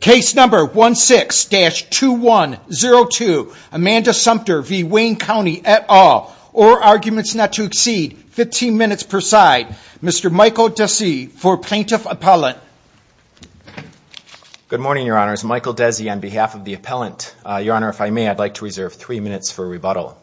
Case number 16-2102, Amanda Sumpter v. Wayne County et al. All arguments not to exceed 15 minutes per side. Mr. Michael Desi for Plaintiff Appellant. Good morning, Your Honors. Michael Desi on behalf of the Appellant. Your Honor, if I may, I'd like to reserve three minutes for rebuttal.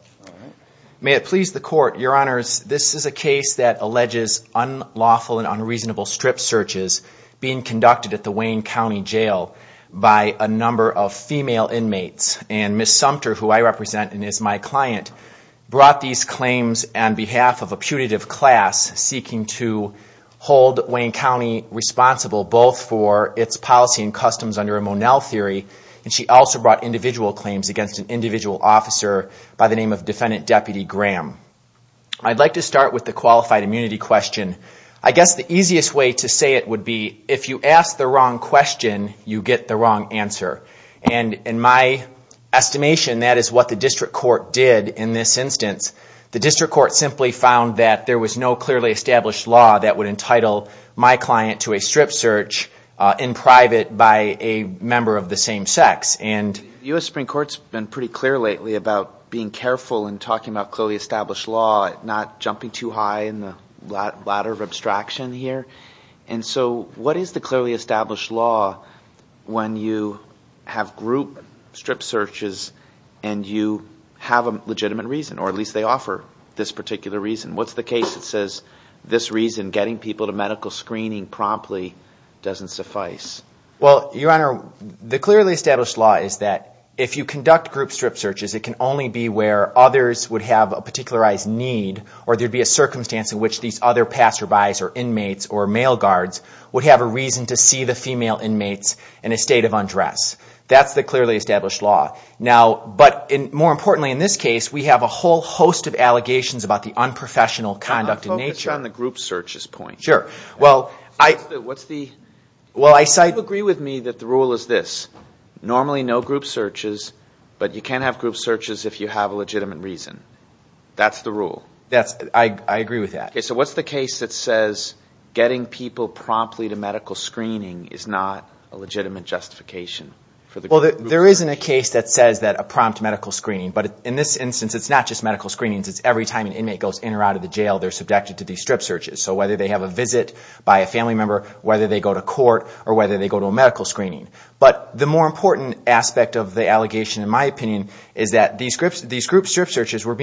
May it please the Court, Your Honors, this is a case that alleges unlawful and unreasonable strip searches being conducted at the Wayne County Jail by a number of female inmates. And Ms. Sumpter, who I represent and is my client, brought these claims on behalf of a putative class seeking to hold Wayne County responsible both for its policy and customs under a Monell theory, and she also brought individual claims against an individual officer by the name of Defendant Deputy Graham. I'd like to start with the qualified immunity question. I guess the easiest way to say it would be, if you ask the wrong question, you get the wrong answer. And in my estimation, that is what the District Court did in this instance. The District Court simply found that there was no clearly established law that would entitle my client to a strip search in private by a member of the same sex. The U.S. Supreme Court's been pretty clear lately about being careful in talking about clearly established law, not jumping too high in the ladder of abstraction here. And so what is the clearly established law when you have group strip searches and you have a legitimate reason, or at least they offer this particular reason? What's the case that says this reason, getting people to medical screening promptly, doesn't suffice? Well, Your Honor, the clearly established law is that if you conduct group strip searches, it can only be where others would have a particularized need, or there would be a circumstance in which these other passerbys or inmates or male guards would have a reason to see the female inmates in a state of undress. That's the clearly established law. But more importantly in this case, we have a whole host of allegations about the unprofessional conduct in nature. Focus on the group searches point. Sure. What's the? Well, I cite. Do you agree with me that the rule is this? Normally no group searches, but you can't have group searches if you have a legitimate reason. That's the rule. I agree with that. So what's the case that says getting people promptly to medical screening is not a legitimate justification? Well, there isn't a case that says that a prompt medical screening. But in this instance, it's not just medical screenings. It's every time an inmate goes in or out of the jail, they're subjected to these strip searches. So whether they have a visit by a family member, whether they go to court, or whether they go to a medical screening. But the more important aspect of the allegation, in my opinion, is that these group strip searches were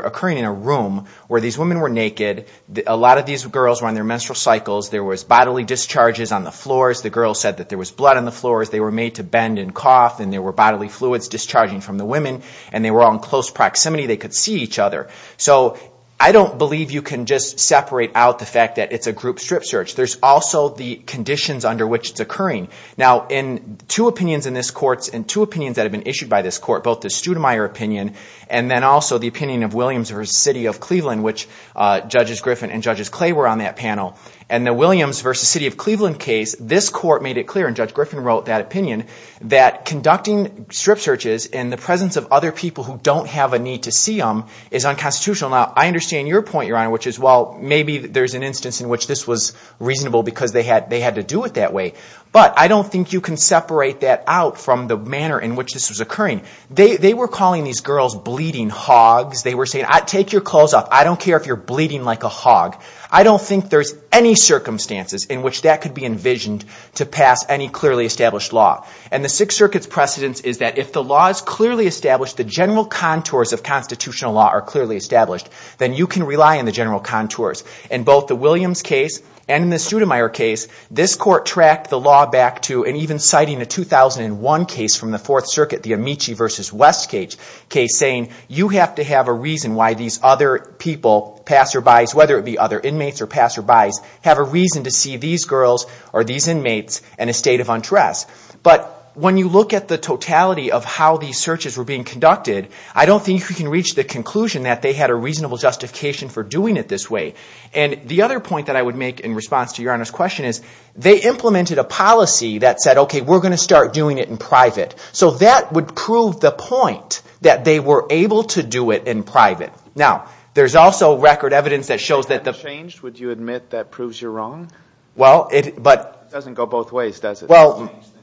occurring in a room where these women were naked. A lot of these girls were on their menstrual cycles. There was bodily discharges on the floors. The girls said that there was blood on the floors. They were made to bend and cough, and there were bodily fluids discharging from the women, and they were all in close proximity. They could see each other. So I don't believe you can just separate out the fact that it's a group strip search. There's also the conditions under which it's occurring. Now, in two opinions in this court, and two opinions that have been issued by this court, both the Studemeier opinion and then also the opinion of Williams v. City of Cleveland, which Judges Griffin and Judges Clay were on that panel. In the Williams v. City of Cleveland case, this court made it clear, and Judge Griffin wrote that opinion, that conducting strip searches in the presence of other people who don't have a need to see them is unconstitutional. Now, I understand your point, Your Honor, which is, well, maybe there's an instance in which this was reasonable because they had to do it that way. But I don't think you can separate that out from the manner in which this was occurring. They were calling these girls bleeding hogs. They were saying, take your clothes off. I don't care if you're bleeding like a hog. I don't think there's any circumstances in which that could be envisioned to pass any clearly established law. And the Sixth Circuit's precedence is that if the law is clearly established, the general contours of constitutional law are clearly established, then you can rely on the general contours. In both the Williams case and in the Studemeier case, this court tracked the law back to, and even citing a 2001 case from the Fourth Circuit, the Amici v. West case, saying you have to have a reason why these other people, passerbys, whether it be other inmates or passerbys, have a reason to see these girls or these inmates in a state of untress. But when you look at the totality of how these searches were being conducted, I don't think we can reach the conclusion that they had a reasonable justification for doing it this way. And the other point that I would make in response to Your Honor's question is, they implemented a policy that said, okay, we're going to start doing it in private. So that would prove the point that they were able to do it in private. Now, there's also record evidence that shows that the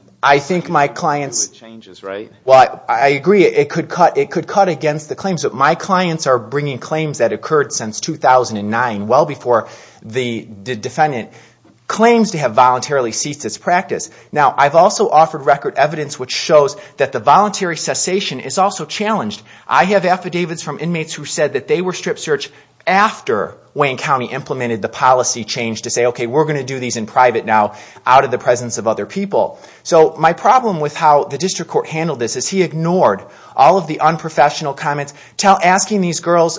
– I think my clients – Well, I agree. It could cut against the claims. But my clients are bringing claims that occurred since 2009, well before the defendant claims to have voluntarily ceased its practice. Now, I've also offered record evidence which shows that the voluntary cessation is also challenged. I have affidavits from inmates who said that they were strip searched after Wayne County implemented the policy change to say, okay, we're going to do these in private now out of the presence of other people. So my problem with how the district court handled this is he ignored all of the unprofessional comments, asking these girls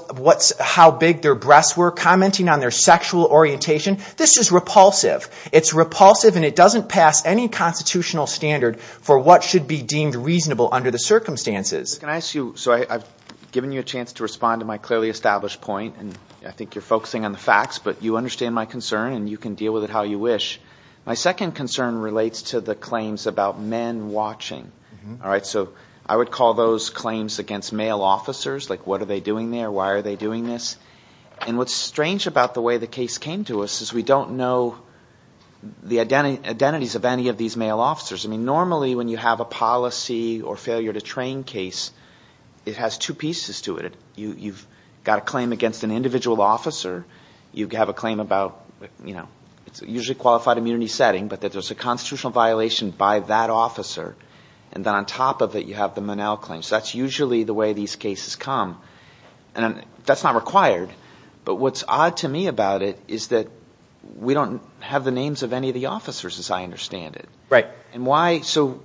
how big their breasts were, commenting on their sexual orientation. This is repulsive. It's repulsive and it doesn't pass any constitutional standard for what should be deemed reasonable under the circumstances. Can I ask you – so I've given you a chance to respond to my clearly established point, and I think you're focusing on the facts, but you understand my concern and you can deal with it how you wish. My second concern relates to the claims about men watching. So I would call those claims against male officers, like what are they doing there, why are they doing this. And what's strange about the way the case came to us is we don't know the identities of any of these male officers. Normally when you have a policy or failure to train case, it has two pieces to it. You've got a claim against an individual officer. You have a claim about – it's usually a qualified immunity setting, but there's a constitutional violation by that officer. And then on top of it you have the Monell claim. So that's usually the way these cases come. That's not required, but what's odd to me about it is that we don't have the names of any of the officers as I understand it. So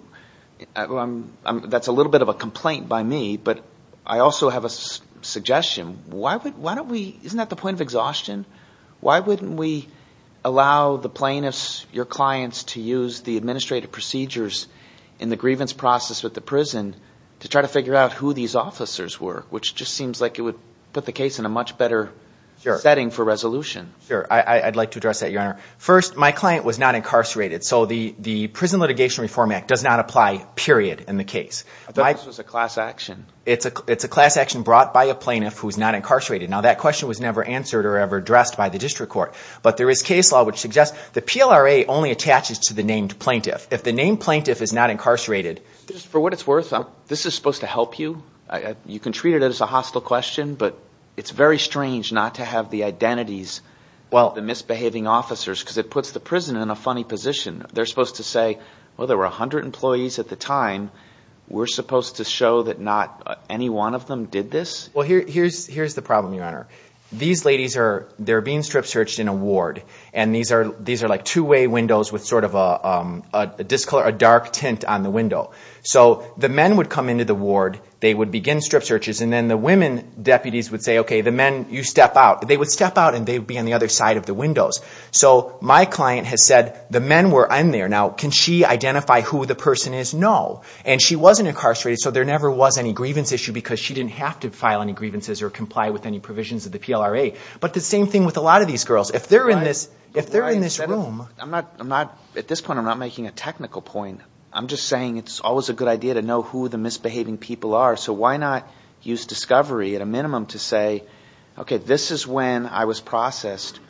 that's a little bit of a complaint by me, but I also have a suggestion. Why don't we – isn't that the point of exhaustion? Why wouldn't we allow the plaintiffs, your clients, to use the administrative procedures in the grievance process with the prison to try to figure out who these officers were, which just seems like it would put the case in a much better setting for resolution. First, my client was not incarcerated, so the Prison Litigation Reform Act does not apply, period, in the case. I thought this was a class action. It's a class action brought by a plaintiff who's not incarcerated. Now that question was never answered or ever addressed by the district court, but there is case law which suggests the PLRA only attaches to the named plaintiff. If the named plaintiff is not incarcerated – For what it's worth, this is supposed to help you. You can treat it as a hostile question, but it's very strange not to have the identities of the misbehaving officers because it puts the prison in a funny position. They're supposed to say, well, there were 100 employees at the time. We're supposed to show that not any one of them did this? Well, here's the problem, your honor. These ladies are – they're being strip searched in a ward, and these are like two-way windows with sort of a discolor – a dark tint on the window. So the men would come into the ward. They would begin strip searches, and then the women deputies would say, okay, the men, you step out. They would step out, and they would be on the other side of the windows. So my client has said, the men were in there. Now, can she identify who the person is? No, and she wasn't incarcerated, so there never was any grievance issue because she didn't have to file any grievances or comply with any provisions of the PLRA. But the same thing with a lot of these girls. If they're in this room – I'm not – at this point, I'm not making a technical point. I'm just saying it's always a good idea to know who the misbehaving people are, so why not use discovery at a minimum to say, okay, this is when I was processed.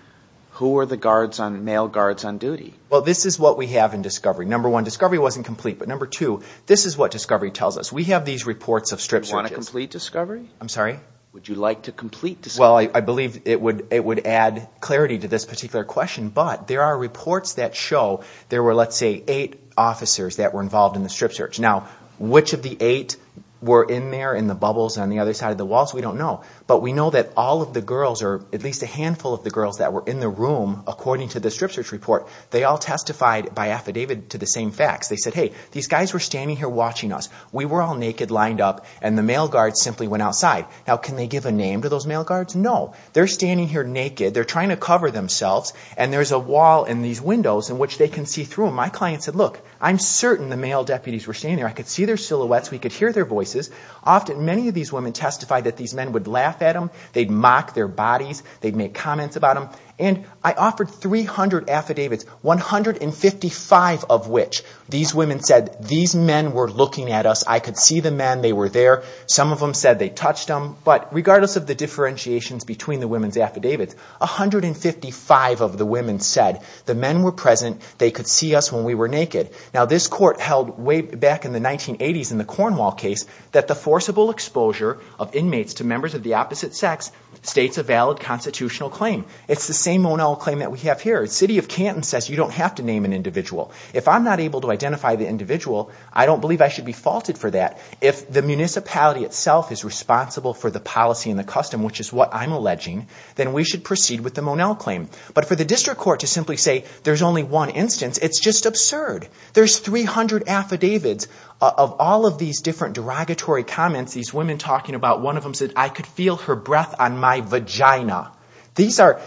Who were the guards on – male guards on duty? Well, this is what we have in discovery. Number one, discovery wasn't complete, but number two, this is what discovery tells us. We have these reports of strip searches. Do you want to complete discovery? I'm sorry? Would you like to complete discovery? Well, I believe it would add clarity to this particular question, but there are reports that show there were, let's say, eight officers that were involved in the strip search. Now, which of the eight were in there in the bubbles on the other side of the walls, we don't know. But we know that all of the girls, or at least a handful of the girls that were in the room, according to the strip search report, they all testified by affidavit to the same facts. They said, hey, these guys were standing here watching us. We were all naked, lined up, and the male guards simply went outside. Now, can they give a name to those male guards? No. They're standing here naked. They're trying to cover themselves, and there's a wall in these windows in which they can see through them. My client said, look, I'm certain the male deputies were standing there. I could see their silhouettes. We could hear their voices. Often, many of these women testified that these men would laugh at them. They'd mock their bodies. They'd make comments about them. And I offered 300 affidavits, 155 of which these women said, these men were looking at us. I could see the men. They were there. Some of them said they touched them. But regardless of the differentiations between the women's affidavits, 155 of the women said the men were present. They could see us when we were naked. Now, this court held way back in the 1980s in the Cornwall case that the forcible exposure of inmates to members of the opposite sex states a valid constitutional claim. It's the same O'Neill claim that we have here. The city of Canton says you don't have to name an individual. If I'm not able to identify the individual, I don't believe I should be faulted for that. If the municipality itself is responsible for the policy and the custom, which is what I'm alleging, then we should proceed with the O'Neill claim. But for the district court to simply say there's only one instance, it's just absurd. There's 300 affidavits of all of these different derogatory comments, these women talking about. One of them said, I could feel her breath on my vagina. These are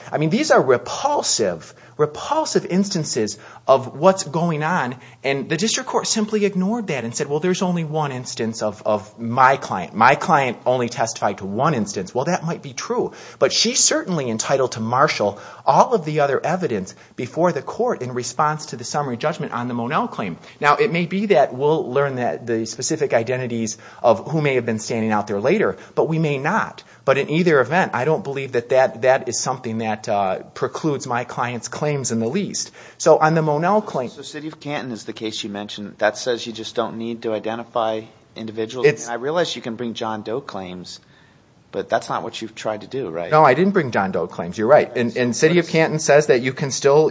repulsive, repulsive instances of what's going on. And the district court simply ignored that and said, well, there's only one instance of my client. My client only testified to one instance. Well, that might be true. But she's certainly entitled to marshal all of the other evidence before the court in response to the summary judgment on the O'Neill claim. Now, it may be that we'll learn the specific identities of who may have been standing out there later, but we may not. But in either event, I don't believe that that is something that precludes my client's claims in the least. So City of Canton is the case you mentioned. That says you just don't need to identify individuals. And I realize you can bring John Doe claims, but that's not what you've tried to do, right? No, I didn't bring John Doe claims. You're right. And City of Canton says that you can still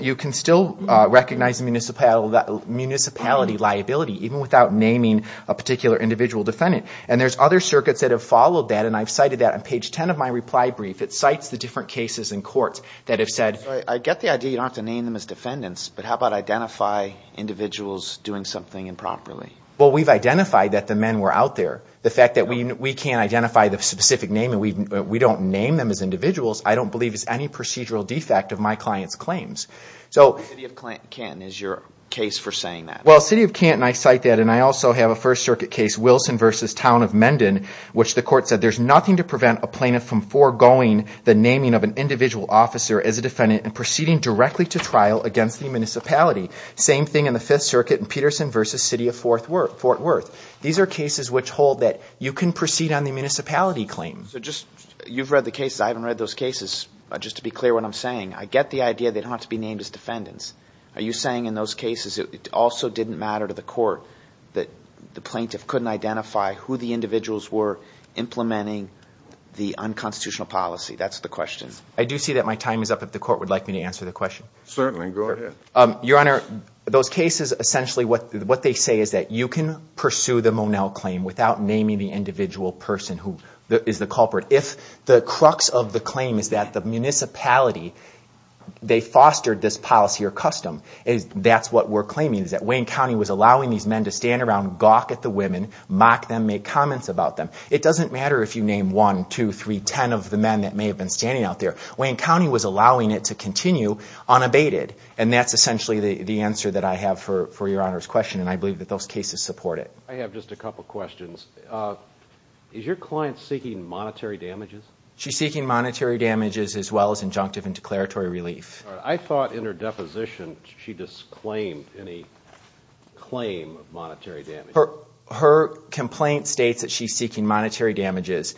recognize a municipality liability even without naming a particular individual defendant. And there's other circuits that have followed that, and I've cited that on page 10 of my reply brief. It cites the different cases in court that have said – I get the idea you don't have to name them as defendants, but how about identify individuals doing something improperly? Well, we've identified that the men were out there. The fact that we can't identify the specific name and we don't name them as individuals I don't believe is any procedural defect of my client's claims. So City of Canton is your case for saying that. Well, City of Canton, I cite that, and I also have a First Circuit case, Wilson v. Town of Mendon, which the court said there's nothing to prevent a plaintiff from foregoing the naming of an individual officer as a defendant and proceeding directly to trial against the municipality. Same thing in the Fifth Circuit in Peterson v. City of Fort Worth. These are cases which hold that you can proceed on the municipality claim. So just – you've read the cases. I haven't read those cases. Just to be clear what I'm saying, I get the idea they don't have to be named as defendants. Are you saying in those cases it also didn't matter to the court that the plaintiff couldn't identify who the individuals were implementing the unconstitutional policy? That's the question. I do see that my time is up if the court would like me to answer the question. Certainly. Go ahead. Your Honor, those cases essentially what they say is that you can pursue the Monell claim without naming the individual person who is the culprit. But if the crux of the claim is that the municipality, they fostered this policy or custom, that's what we're claiming is that Wayne County was allowing these men to stand around, gawk at the women, mock them, make comments about them. It doesn't matter if you name one, two, three, ten of the men that may have been standing out there. Wayne County was allowing it to continue unabated. And that's essentially the answer that I have for Your Honor's question, and I believe that those cases support it. I have just a couple questions. Is your client seeking monetary damages? She's seeking monetary damages as well as injunctive and declaratory relief. I thought in her deposition she disclaimed any claim of monetary damages. Her complaint states that she's seeking monetary damages.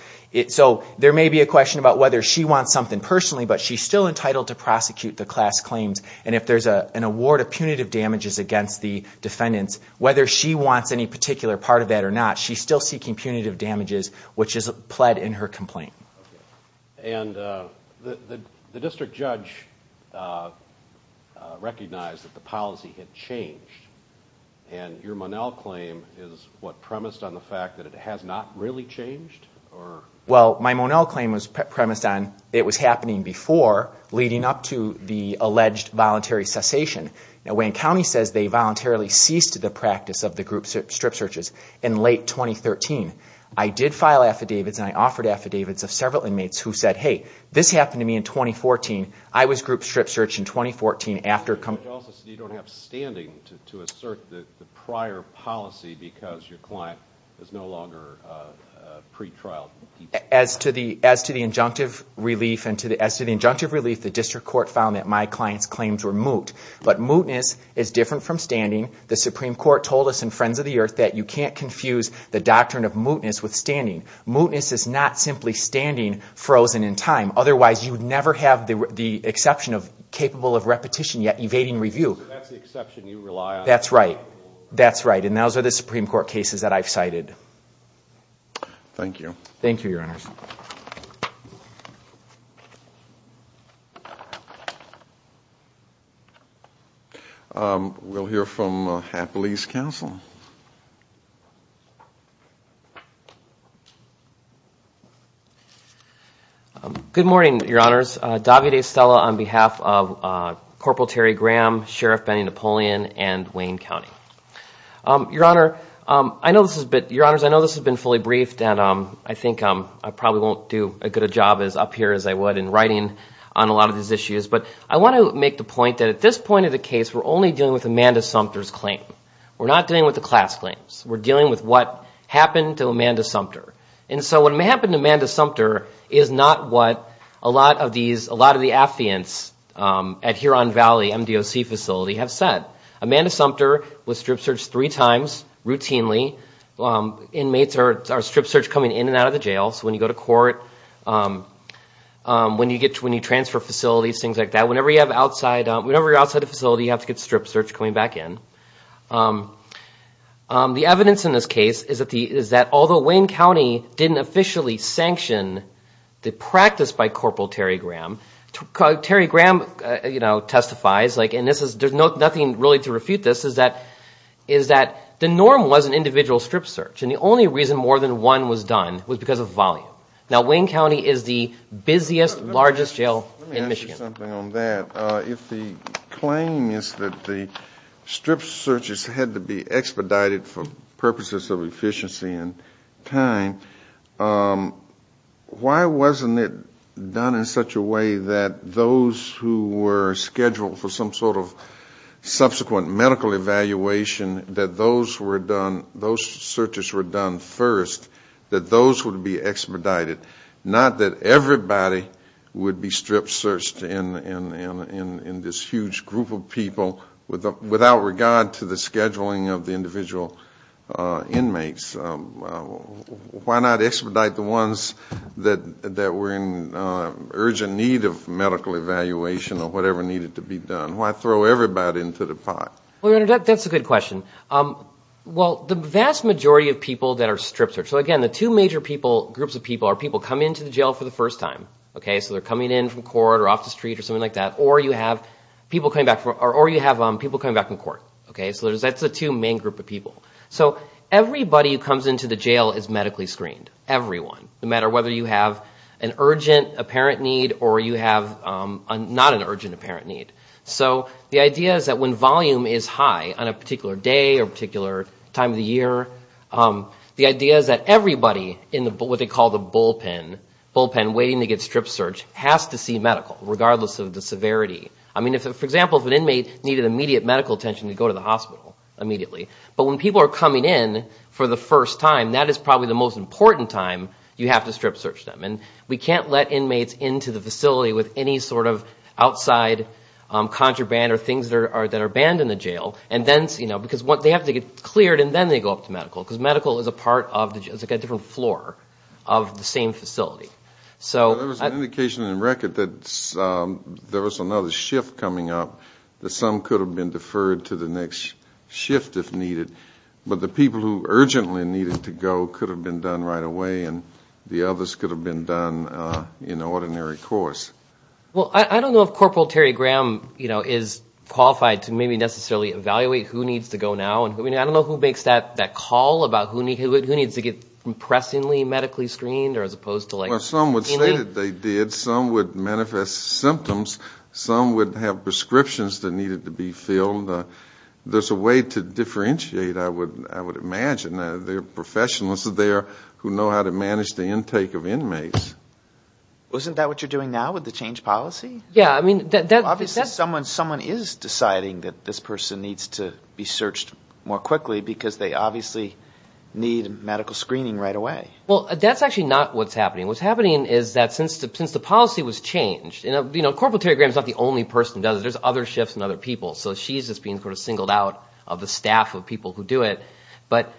So there may be a question about whether she wants something personally, but she's still entitled to prosecute the class claims. And if there's an award of punitive damages against the defendants, whether she wants any particular part of that or not, she's still seeking punitive damages, which is pled in her complaint. And the district judge recognized that the policy had changed. And your Monell claim is what premised on the fact that it has not really changed? Well, my Monell claim was premised on it was happening before, leading up to the alleged voluntary cessation. Now, Wayne County says they voluntarily ceased the practice of the group strip searches in late 2013. I did file affidavits, and I offered affidavits of several inmates who said, hey, this happened to me in 2014. I was group strip searched in 2014 after a couple of years. The judge also said you don't have standing to assert the prior policy because your client is no longer pretrial. As to the injunctive relief, the district court found that my client's claims were moot. But mootness is different from standing. The Supreme Court told us in Friends of the Earth that you can't confuse the doctrine of mootness with standing. Mootness is not simply standing frozen in time. Otherwise, you would never have the exception of capable of repetition yet evading review. So that's the exception you rely on? That's right. That's right. And those are the Supreme Court cases that I've cited. Thank you. Thank you, Your Honors. We'll hear from Happily's Counsel. Good morning, Your Honors. Davide Stella on behalf of Corporal Terry Graham, Sheriff Benny Napoleon, and Wayne County. Your Honors, I know this has been fully briefed, and I think I probably won't do a good a job as up here as I would in writing on a lot of these issues. But I want to make the point that at this point of the case, we're only dealing with Amanda Sumter's claim. We're not dealing with the class claims. We're dealing with what happened to Amanda Sumter. And so what happened to Amanda Sumter is not what a lot of the affiants at Huron Valley MDOC facility have said. Amanda Sumter was strip searched three times routinely. Inmates are strip searched coming in and out of the jail, so when you go to court, when you transfer facilities, things like that. Whenever you're outside a facility, you have to get strip searched coming back in. The evidence in this case is that although Wayne County didn't officially sanction the practice by Corporal Terry Graham, Terry Graham testifies, and there's nothing really to refute this, is that the norm was an individual strip search. And the only reason more than one was done was because of volume. Now, Wayne County is the busiest, largest jail in Michigan. Let me answer something on that. If the claim is that the strip searches had to be expedited for purposes of efficiency and time, why wasn't it done in such a way that those who were scheduled for some sort of subsequent medical evaluation, that those searches were done first, that those would be expedited, not that everybody would be strip searched in this huge group of people without regard to the scheduling of the individual inmates? Why not expedite the ones that were in urgent need of medical evaluation or whatever needed to be done? Why throw everybody into the pot? Well, Your Honor, that's a good question. Well, the vast majority of people that are strip searched, so again, the two major groups of people are people coming into the jail for the first time, so they're coming in from court or off the street or something like that, or you have people coming back from court. So that's the two main group of people. So everybody who comes into the jail is medically screened, everyone, no matter whether you have an urgent apparent need or you have not an urgent apparent need. So the idea is that when volume is high on a particular day or particular time of the year, the idea is that everybody in what they call the bullpen, bullpen waiting to get strip searched, has to see medical, regardless of the severity. I mean, for example, if an inmate needed immediate medical attention, they'd go to the hospital immediately. But when people are coming in for the first time, that is probably the most important time you have to strip search them. And we can't let inmates into the facility with any sort of outside contraband or things that are banned in the jail, because they have to get cleared and then they go up to medical, because medical is a part of a different floor of the same facility. There was an indication in the record that there was another shift coming up, that some could have been deferred to the next shift if needed, but the people who urgently needed to go could have been done right away and the others could have been done in an ordinary course. Well, I don't know if Corporal Terry Graham, you know, is qualified to maybe necessarily evaluate who needs to go now. I mean, I don't know who makes that call about who needs to get impressingly medically screened or as opposed to like. Well, some would say that they did. Some would manifest symptoms. Some would have prescriptions that needed to be filled. There's a way to differentiate, I would imagine. Isn't that what you're doing now with the change policy? Obviously someone is deciding that this person needs to be searched more quickly, because they obviously need medical screening right away. Well, that's actually not what's happening. What's happening is that since the policy was changed, you know, Corporal Terry Graham is not the only person who does it. There's other shifts and other people. So she's just being sort of singled out of the staff of people who do it. But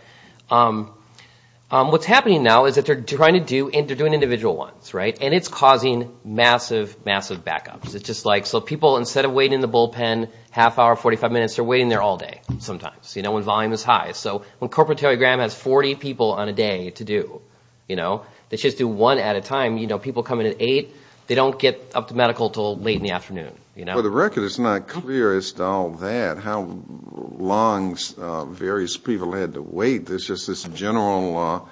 what's happening now is that they're trying to do individual ones, right, and it's causing massive, massive backups. It's just like so people, instead of waiting in the bullpen half hour, 45 minutes, they're waiting there all day sometimes, you know, when volume is high. So when Corporal Terry Graham has 40 people on a day to do, you know, they just do one at a time. You know, people come in at 8. They don't get up to medical until late in the afternoon, you know. For the record, it's not clear as to all that, how long various people had to wait. There's just this general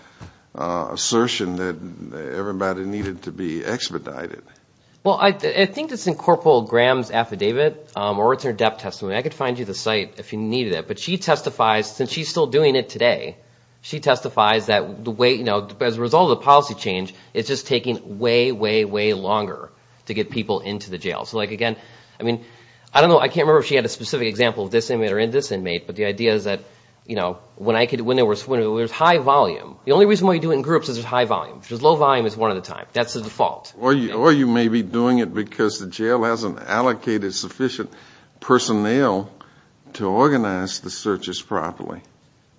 assertion that everybody needed to be expedited. Well, I think it's in Corporal Graham's affidavit or it's in her death testimony. I could find you the site if you needed it. But she testifies, since she's still doing it today, she testifies that the way, you know, as a result of the policy change, it's just taking way, way, way longer to get people into the jail. So, like, again, I mean, I don't know. I can't remember if she had a specific example of this inmate or in this inmate. But the idea is that, you know, when there's high volume, the only reason why you do it in groups is there's high volume. Because low volume is one at a time. That's the default. Or you may be doing it because the jail hasn't allocated sufficient personnel to organize the searches properly.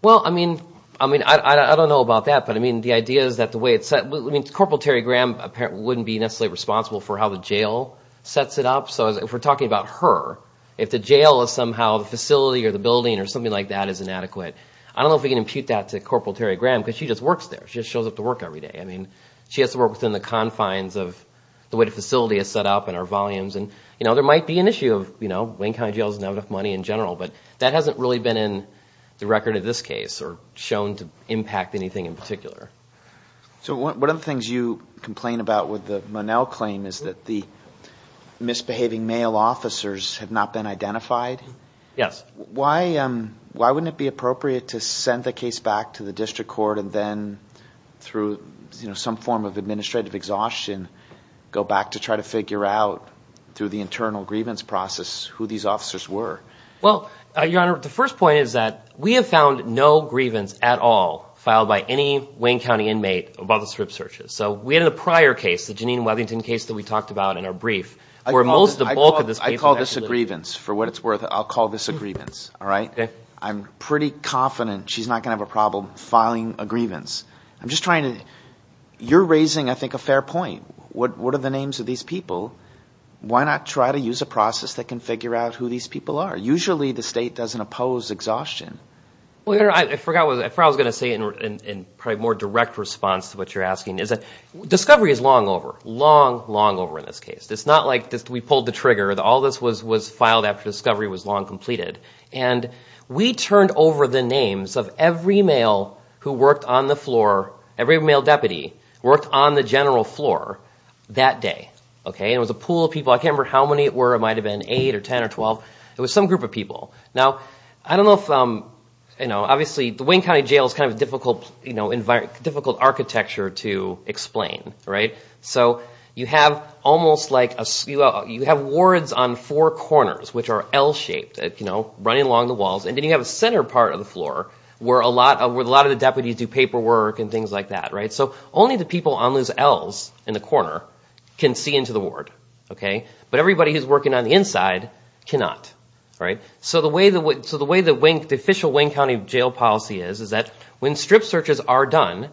Well, I mean, I don't know about that. But, I mean, the idea is that the way it's set. I mean, Corporal Terry Graham wouldn't be necessarily responsible for how the jail sets it up. So if we're talking about her, if the jail is somehow the facility or the building or something like that is inadequate, I don't know if we can impute that to Corporal Terry Graham because she just works there. She just shows up to work every day. I mean, she has to work within the confines of the way the facility is set up and our volumes. And, you know, there might be an issue of, you know, Wayne County Jail doesn't have enough money in general. But that hasn't really been in the record of this case or shown to impact anything in particular. So one of the things you complain about with the Monell claim is that the misbehaving male officers have not been identified. Yes. Why wouldn't it be appropriate to send the case back to the district court and then through some form of administrative exhaustion go back to try to figure out through the internal grievance process who these officers were? Well, Your Honor, the first point is that we have found no grievance at all filed by any Wayne County inmate above the strip searches. So we had a prior case, the Janine Weathington case that we talked about in our brief. I call this a grievance for what it's worth. I'll call this a grievance. All right. I'm pretty confident she's not going to have a problem filing a grievance. I'm just trying to you're raising, I think, a fair point. What are the names of these people? Why not try to use a process that can figure out who these people are? Usually the state doesn't oppose exhaustion. Well, Your Honor, I forgot what I was going to say in probably a more direct response to what you're asking. Discovery is long over, long, long over in this case. It's not like we pulled the trigger. All this was filed after discovery was long completed. And we turned over the names of every male who worked on the floor, every male deputy worked on the general floor that day. And it was a pool of people. I can't remember how many it were. It might have been 8 or 10 or 12. It was some group of people. Now, I don't know if, obviously, the Wayne County Jail is kind of a difficult architecture to explain. So you have almost like a, you have wards on four corners, which are L-shaped, running along the walls. And then you have a center part of the floor where a lot of the deputies do paperwork and things like that. So only the people on those L's in the corner can see into the ward. But everybody who's working on the inside cannot. So the way the official Wayne County Jail policy is, is that when strip searches are done,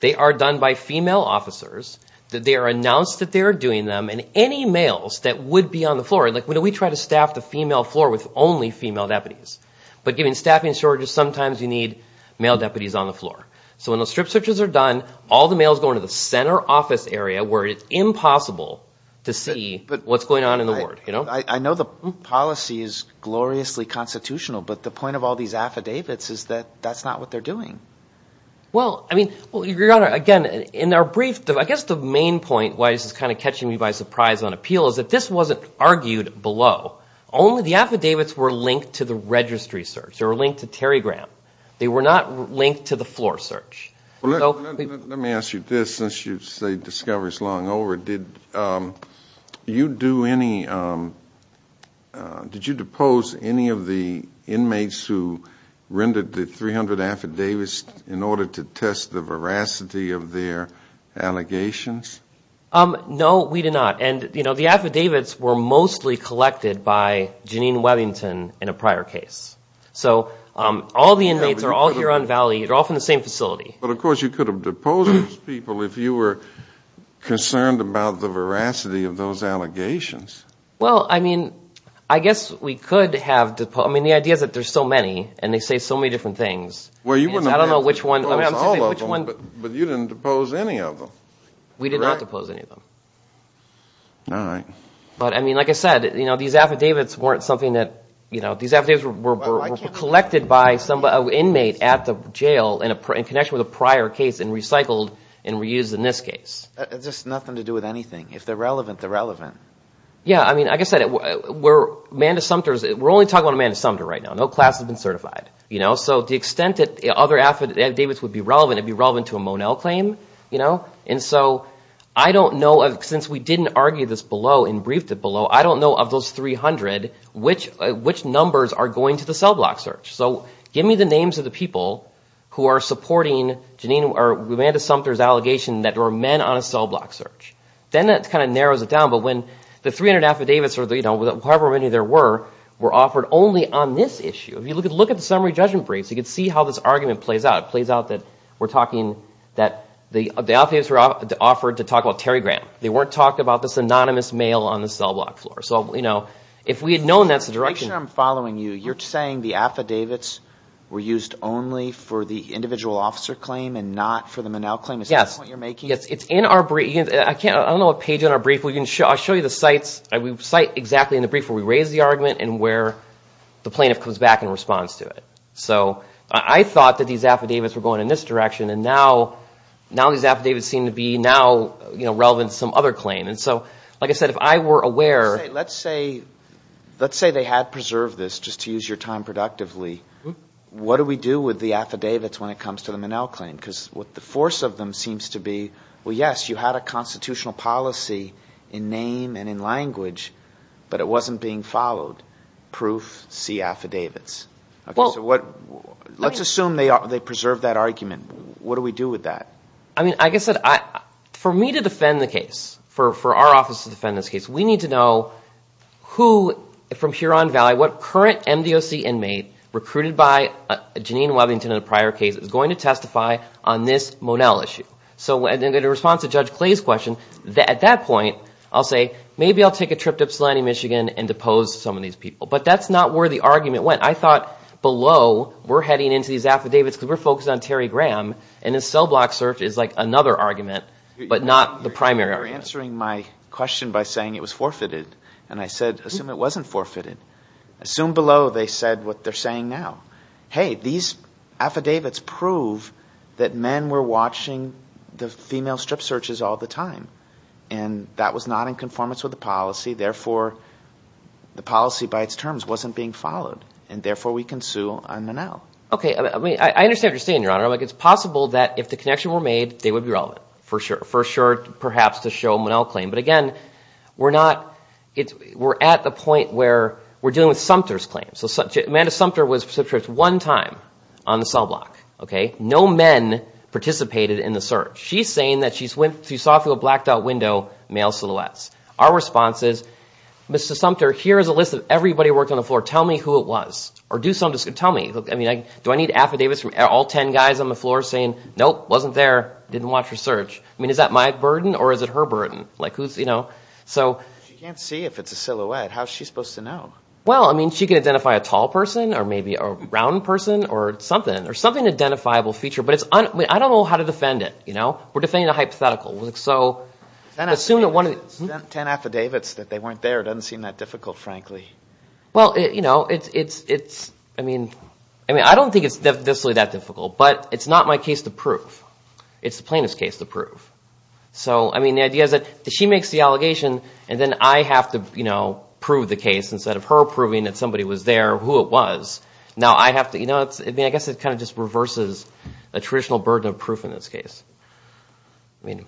they are done by female officers. They are announced that they are doing them. And any males that would be on the floor, like we try to staff the female floor with only female deputies. But given staffing shortages, sometimes you need male deputies on the floor. So when those strip searches are done, all the males go into the center office area where it's impossible to see what's going on in the ward. I know the policy is gloriously constitutional, but the point of all these affidavits is that that's not what they're doing. Well, I mean, Your Honor, again, in our brief, I guess the main point, why this is kind of catching me by surprise on appeal, is that this wasn't argued below. Only the affidavits were linked to the registry search. They were linked to Terry Graham. They were not linked to the floor search. Let me ask you this, since you say discovery is long over. Did you do any, did you depose any of the inmates who rendered the 300 affidavits in order to test the veracity of their allegations? No, we did not. And, you know, the affidavits were mostly collected by Jeanine Webbington in a prior case. So all the inmates are all here on Valley. They're all from the same facility. But, of course, you could have deposed those people if you were concerned about the veracity of those allegations. Well, I mean, I guess we could have deposed. I mean, the idea is that there's so many and they say so many different things. Well, you wouldn't have deposed all of them, but you didn't depose any of them. We did not depose any of them. All right. But, I mean, like I said, you know, these affidavits weren't something that, you know, these affidavits were collected by an inmate at the jail in connection with a prior case and recycled and reused in this case. It's just nothing to do with anything. If they're relevant, they're relevant. Yeah, I mean, like I said, we're only talking about Amanda Sumter right now. No class has been certified, you know. So to the extent that other affidavits would be relevant, it would be relevant to a Monell claim, you know. And so I don't know, since we didn't argue this below and briefed it below, I don't know of those 300 which numbers are going to the cell block search. So give me the names of the people who are supporting Amanda Sumter's allegation that there were men on a cell block search. Then that kind of narrows it down. But when the 300 affidavits or, you know, however many there were, were offered only on this issue. If you look at the summary judgment briefs, you can see how this argument plays out. It plays out that we're talking that the affidavits were offered to talk about Terry Graham. They weren't talking about this anonymous male on the cell block floor. So, you know, if we had known that's the direction. Make sure I'm following you. You're saying the affidavits were used only for the individual officer claim and not for the Monell claim. Is that the point you're making? Yes. It's in our brief. I don't know what page on our brief. I'll show you the sites. We cite exactly in the brief where we raise the argument and where the plaintiff comes back and responds to it. So I thought that these affidavits were going in this direction. And now these affidavits seem to be now, you know, relevant to some other claim. And so, like I said, if I were aware. Let's say they had preserved this, just to use your time productively. What do we do with the affidavits when it comes to the Monell claim? Because what the force of them seems to be, well, yes, you had a constitutional policy in name and in language. But it wasn't being followed. Proof, see affidavits. Let's assume they preserved that argument. What do we do with that? I mean, like I said, for me to defend the case, for our office to defend this case, we need to know who from Huron Valley, what current MDOC inmate recruited by Janine Webbington in a prior case is going to testify on this Monell issue. So in response to Judge Clay's question, at that point, I'll say maybe I'll take a trip to Ypsilanti, Michigan, and depose some of these people. But that's not where the argument went. I thought below, we're heading into these affidavits because we're focused on Terry Graham, and his cell block search is like another argument, but not the primary argument. You're answering my question by saying it was forfeited. And I said, assume it wasn't forfeited. Assume below they said what they're saying now. Hey, these affidavits prove that men were watching the female strip searches all the time. And that was not in conformance with the policy. Therefore, the policy by its terms wasn't being followed. And therefore, we can sue on Monell. Okay. I understand what you're saying, Your Honor. It's possible that if the connection were made, they would be relevant, for sure. For sure, perhaps, to show Monell claim. But, again, we're at the point where we're dealing with Sumter's claim. So Amanda Sumter was subject to one time on the cell block. No men participated in the search. She's saying that she saw through a blacked-out window male silhouettes. Our response is, Mr. Sumter, here is a list of everybody who worked on the floor. Tell me who it was. Or do something. Tell me. Do I need affidavits from all ten guys on the floor saying, nope, wasn't there, didn't watch her search? Is that my burden or is it her burden? She can't see if it's a silhouette. How is she supposed to know? Well, I mean, she can identify a tall person or maybe a round person or something. There's something identifiable feature. But I don't know how to defend it. We're defending a hypothetical. Ten affidavits that they weren't there doesn't seem that difficult, frankly. Well, you know, it's, I mean, I don't think it's necessarily that difficult. But it's not my case to prove. It's the plaintiff's case to prove. So, I mean, the idea is that she makes the allegation and then I have to prove the case instead of her proving that somebody was there, who it was. Now I have to, you know, I guess it kind of just reverses the traditional burden of proof in this case. I mean,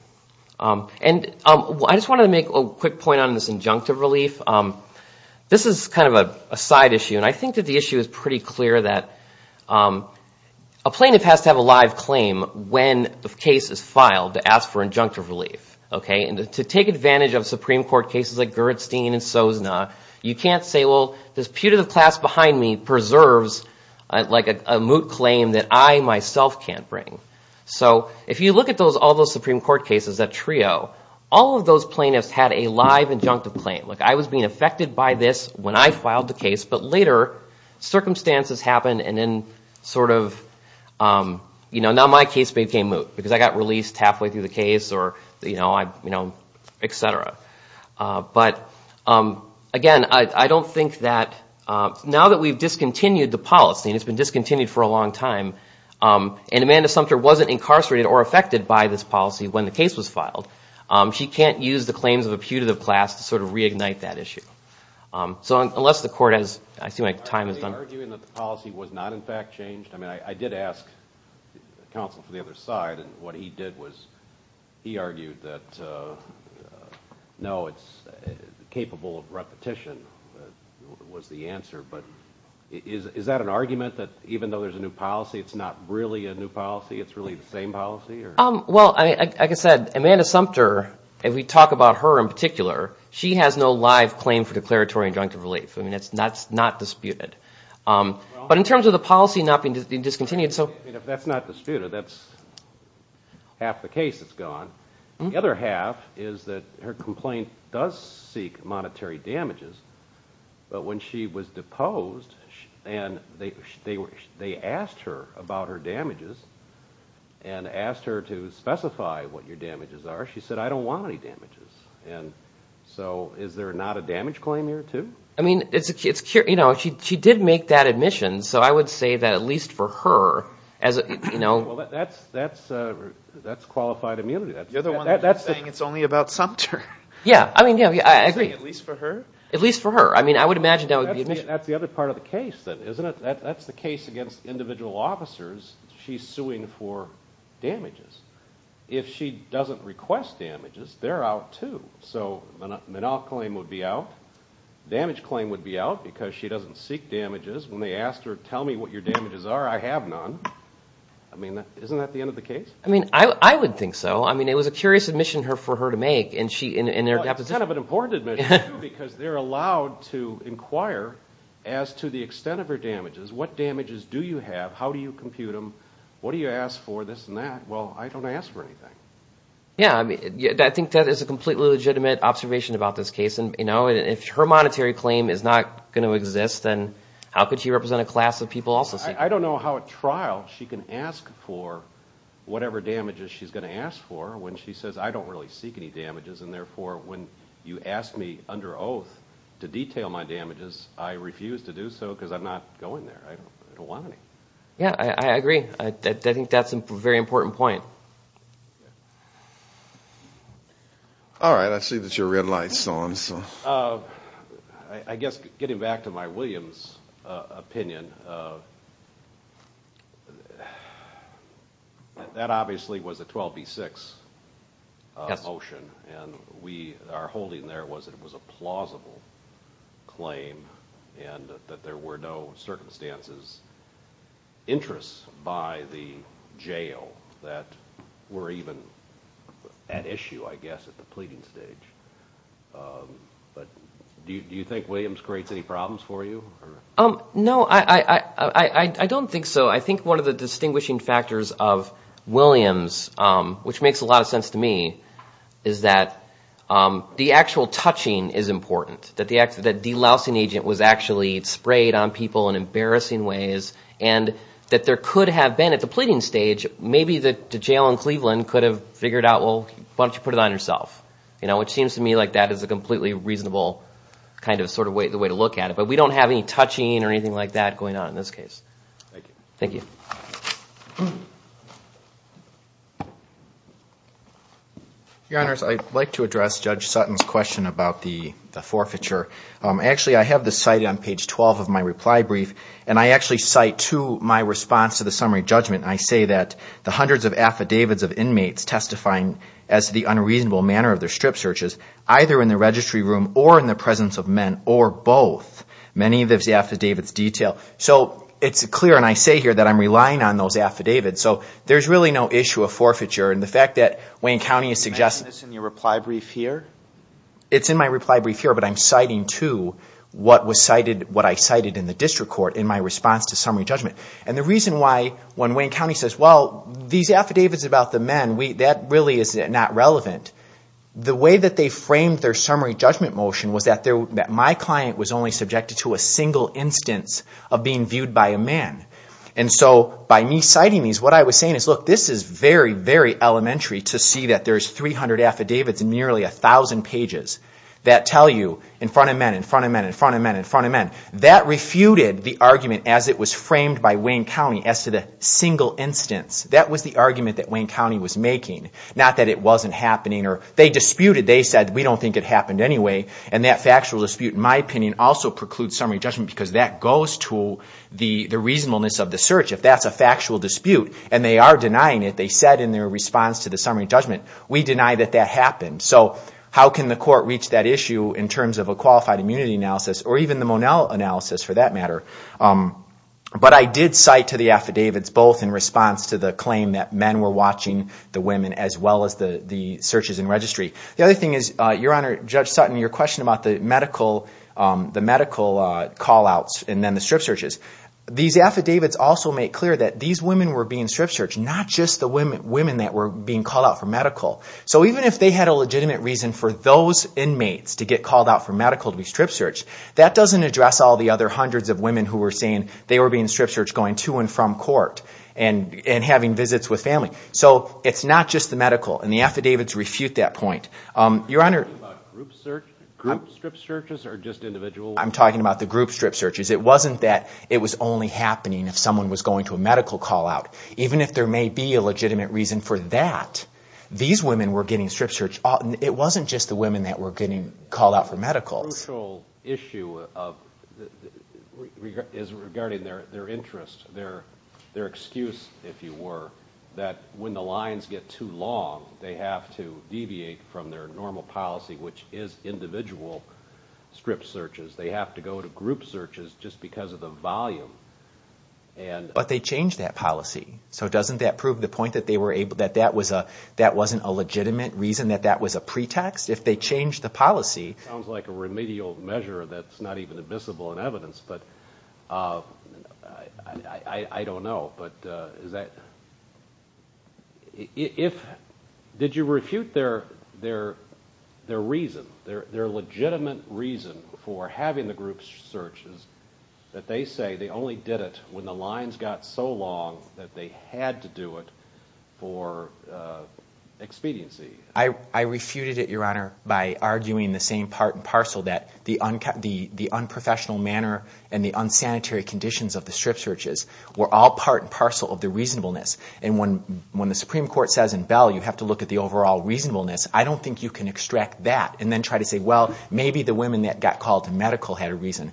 and I just wanted to make a quick point on this injunctive relief. This is kind of a side issue, and I think that the issue is pretty clear that a plaintiff has to have a live claim when the case is filed to ask for injunctive relief. Okay? And to take advantage of Supreme Court cases like Gerritstein and Sozna, you can't say, well, this putative class behind me preserves like a moot claim that I myself can't bring. So, if you look at all those Supreme Court cases, that trio, all of those plaintiffs had a live injunctive claim. Like, I was being affected by this when I filed the case, but later circumstances happened and then sort of, you know, now my case became moot because I got released halfway through the case or, you know, et cetera. But, again, I don't think that now that we've discontinued the policy, and it's been discontinued for a long time, and Amanda Sumter wasn't incarcerated or affected by this policy when the case was filed, she can't use the claims of a putative class to sort of reignite that issue. So, unless the court has, I see my time is done. Are you arguing that the policy was not in fact changed? I mean, I did ask counsel for the other side, and what he did was he argued that, no, it's capable of repetition was the answer. But, is that an argument that even though there's a new policy, it's not really a new policy, it's really the same policy? Well, like I said, Amanda Sumter, if we talk about her in particular, she has no live claim for declaratory injunctive relief. I mean, that's not disputed. But, in terms of the policy not being discontinued. If that's not disputed, that's half the case that's gone. The other half is that her complaint does seek monetary damages, but when she was deposed, and they asked her about her damages, and asked her to specify what your damages are, she said, I don't want any damages. And so, is there not a damage claim here, too? I mean, it's, you know, she did make that admission, so I would say that at least for her, as a, you know. Well, that's qualified immunity. You're the one that's saying it's only about Sumter. Yeah, I mean, I agree. You're saying at least for her? At least for her. I mean, I would imagine that would be an issue. That's the other part of the case, then, isn't it? That's the case against individual officers. She's suing for damages. If she doesn't request damages, they're out, too. So, the non-claim would be out. The damage claim would be out because she doesn't seek damages. When they asked her, tell me what your damages are, I have none. I mean, isn't that the end of the case? I mean, I would think so. I mean, it was a curious admission for her to make, and she, in her deposition. Well, it's kind of an important admission, too, because they're allowed to inquire as to the extent of her damages. What damages do you have? How do you compute them? What do you ask for, this and that? Well, I don't ask for anything. Yeah, I mean, I think that is a completely legitimate observation about this case, and, you know, If her monetary claim is not going to exist, then how could she represent a class of people also seeking? I don't know how, at trial, she can ask for whatever damages she's going to ask for when she says, I don't really seek any damages, and, therefore, when you ask me under oath to detail my damages, I refuse to do so because I'm not going there. I don't want any. Yeah, I agree. I think that's a very important point. All right, I see that your red light is on. I guess, getting back to my Williams opinion, that obviously was a 12B6 motion, and our holding there was that it was a plausible claim and that there were no circumstances, interests by the jail that were even at issue, I guess, at the pleading stage. But do you think Williams creates any problems for you? No, I don't think so. I think one of the distinguishing factors of Williams, which makes a lot of sense to me, is that the actual touching is important. That the lousing agent was actually sprayed on people in embarrassing ways and that there could have been, at the pleading stage, maybe the jail in Cleveland could have figured out, well, why don't you put it on yourself? It seems to me like that is a completely reasonable way to look at it, but we don't have any touching or anything like that going on in this case. Thank you. Thank you. Your Honors, I'd like to address Judge Sutton's question about the forfeiture. Actually, I have this cited on page 12 of my reply brief, and I actually cite to my response to the summary judgment, and I say that the hundreds of affidavits of inmates testifying as the unreasonable manner of their strip searches, either in the registry room or in the presence of men or both, many of those affidavits detail. So it's clear, and I say here that I'm relying on those affidavits, so there's really no issue of forfeiture. And the fact that Wayne County is suggesting this in your reply brief here? It's in my reply brief here, but I'm citing to what I cited in the district court in my response to summary judgment. And the reason why, when Wayne County says, well, these affidavits are about the men, that really is not relevant. The way that they framed their summary judgment motion was that my client was only subjected to a single instance of being viewed by a man. And so by me citing these, what I was saying is, look, this is very, very elementary to see that there's 300 affidavits and nearly 1,000 pages that tell you in front of men, in front of men, in front of men, in front of men. That refuted the argument as it was framed by Wayne County as to the single instance. That was the argument that Wayne County was making, not that it wasn't happening or they disputed. They said, we don't think it happened anyway. And that factual dispute, in my opinion, also precludes summary judgment because that goes to the reasonableness of the search, if that's a factual dispute. And they are denying it. They said in their response to the summary judgment, we deny that that happened. So how can the court reach that issue in terms of a qualified immunity analysis or even the Monell analysis, for that matter? But I did cite to the affidavits both in response to the claim that men were watching the women as well as the searches and registry. The other thing is, Your Honor, Judge Sutton, your question about the medical call-outs and then the strip searches. These affidavits also make clear that these women were being strip searched, not just the women that were being called out for medical. So even if they had a legitimate reason for those inmates to get called out for medical to be strip searched, that doesn't address all the other hundreds of women who were saying they were being strip searched, going to and from court and having visits with family. So it's not just the medical. And the affidavits refute that point. Your Honor, I'm talking about the group strip searches. It wasn't that it was only happening if someone was going to a medical call-out. Even if there may be a legitimate reason for that, these women were getting strip searched. It wasn't just the women that were getting called out for medical. The crucial issue is regarding their interest, their excuse, if you were, that when the lines get too long, they have to deviate from their normal policy, which is individual strip searches. They have to go to group searches just because of the volume. But they changed that policy. So doesn't that prove the point that that wasn't a legitimate reason, that that was a pretext? Sounds like a remedial measure that's not even admissible in evidence. But I don't know. But did you refute their reason, their legitimate reason for having the group searches, that they say they only did it when the lines got so long that they had to do it for expediency? I refuted it, Your Honor, by arguing the same part and parcel that the unprofessional manner and the unsanitary conditions of the strip searches were all part and parcel of the reasonableness. And when the Supreme Court says in Bell you have to look at the overall reasonableness, I don't think you can extract that and then try to say, well, maybe the women that got called to medical had a reason.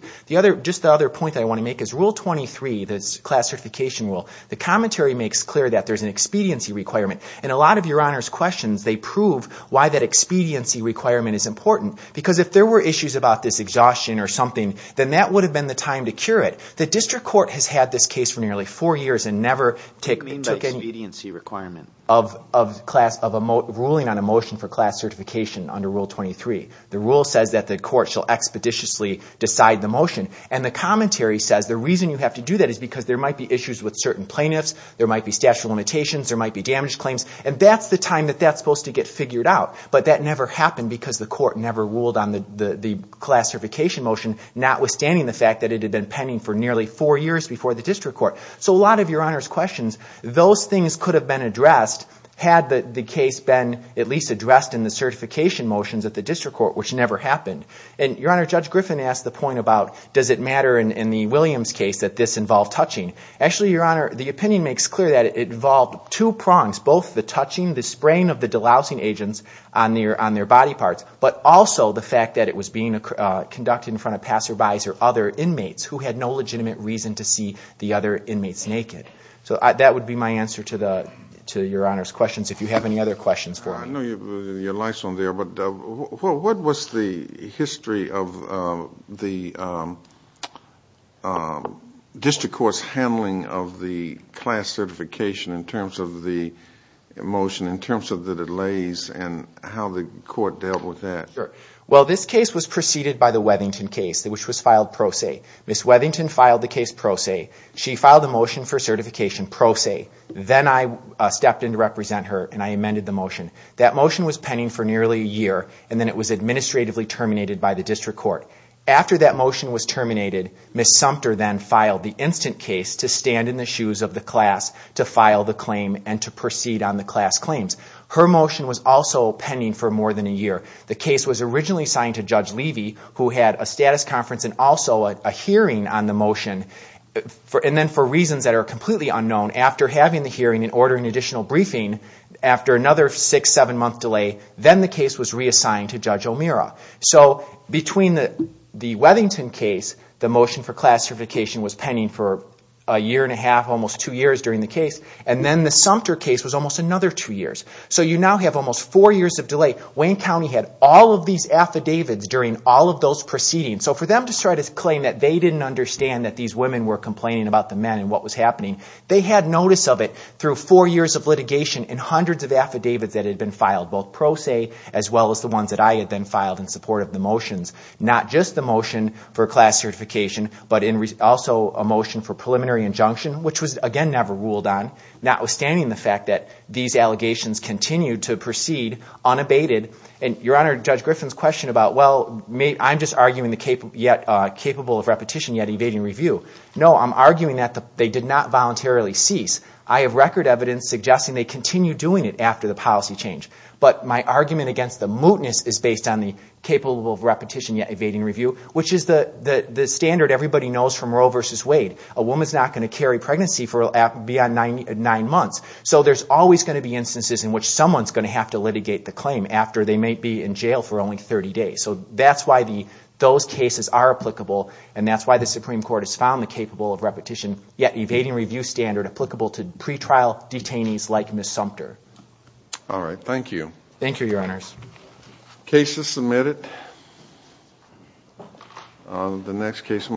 Just the other point that I want to make is Rule 23, the class certification rule, the commentary makes clear that there's an expediency requirement. And a lot of Your Honor's questions, they prove why that expediency requirement is important. Because if there were issues about this exhaustion or something, then that would have been the time to cure it. The district court has had this case for nearly four years and never took any of ruling on a motion for class certification under Rule 23. The rule says that the court shall expeditiously decide the motion. And the commentary says the reason you have to do that is because there might be issues with certain plaintiffs, there might be statute of limitations, there might be damage claims. And that's the time that that's supposed to get figured out. But that never happened because the court never ruled on the class certification motion, notwithstanding the fact that it had been pending for nearly four years before the district court. So a lot of Your Honor's questions, those things could have been addressed had the case been at least addressed in the certification motions at the district court, which never happened. And Your Honor, Judge Griffin asked the point about does it matter in the Williams case that this involved touching. Actually, Your Honor, the opinion makes clear that it involved two prongs, both the touching, the spraying of the dolousing agents on their body parts, but also the fact that it was being conducted in front of passerbys or other inmates who had no legitimate reason to see the other inmates naked. So that would be my answer to Your Honor's questions, if you have any other questions for me. I know your light's on there, but what was the history of the district court's handling of the class certification in terms of the motion, in terms of the delays and how the court dealt with that? Well, this case was preceded by the Weathington case, which was filed pro se. Ms. Weathington filed the case pro se. She filed the motion for certification pro se. Then I stepped in to represent her and I amended the motion. That motion was pending for nearly a year, and then it was administratively terminated by the district court. After that motion was terminated, Ms. Sumter then filed the instant case to stand in the shoes of the class to file the claim and to proceed on the class claims. Her motion was also pending for more than a year. The case was originally signed to Judge Levy, who had a status conference and also a hearing on the motion. Then for reasons that are completely unknown, after having the hearing and ordering additional briefing, after another six, seven-month delay, then the case was reassigned to Judge O'Meara. So between the Weathington case, the motion for class certification was pending for a year and a half, almost two years during the case, and then the Sumter case was almost another two years. So you now have almost four years of delay. Wayne County had all of these affidavits during all of those proceedings. So for them to try to claim that they didn't understand that these women were complaining about the men and what was happening, they had notice of it through four years of litigation and hundreds of affidavits that had been filed, both pro se as well as the ones that I had then filed in support of the motions, not just the motion for class certification, but also a motion for preliminary injunction, which was, again, never ruled on, notwithstanding the fact that these allegations continued to proceed unabated. And, Your Honor, Judge Griffin's question about, well, I'm just arguing the capable of repetition yet evading review. No, I'm arguing that they did not voluntarily cease. I have record evidence suggesting they continued doing it after the policy change. But my argument against the mootness is based on the capable of repetition yet evading review, which is the standard everybody knows from Roe v. Wade. A woman's not going to carry pregnancy for beyond nine months. So there's always going to be instances in which someone's going to have to litigate the claim after they may be in jail for only 30 days. So that's why those cases are applicable, and that's why the Supreme Court has found the capable of repetition yet evading review standard applicable to pretrial detainees like Ms. Sumter. All right. Thank you. Thank you, Your Honors. Case is submitted.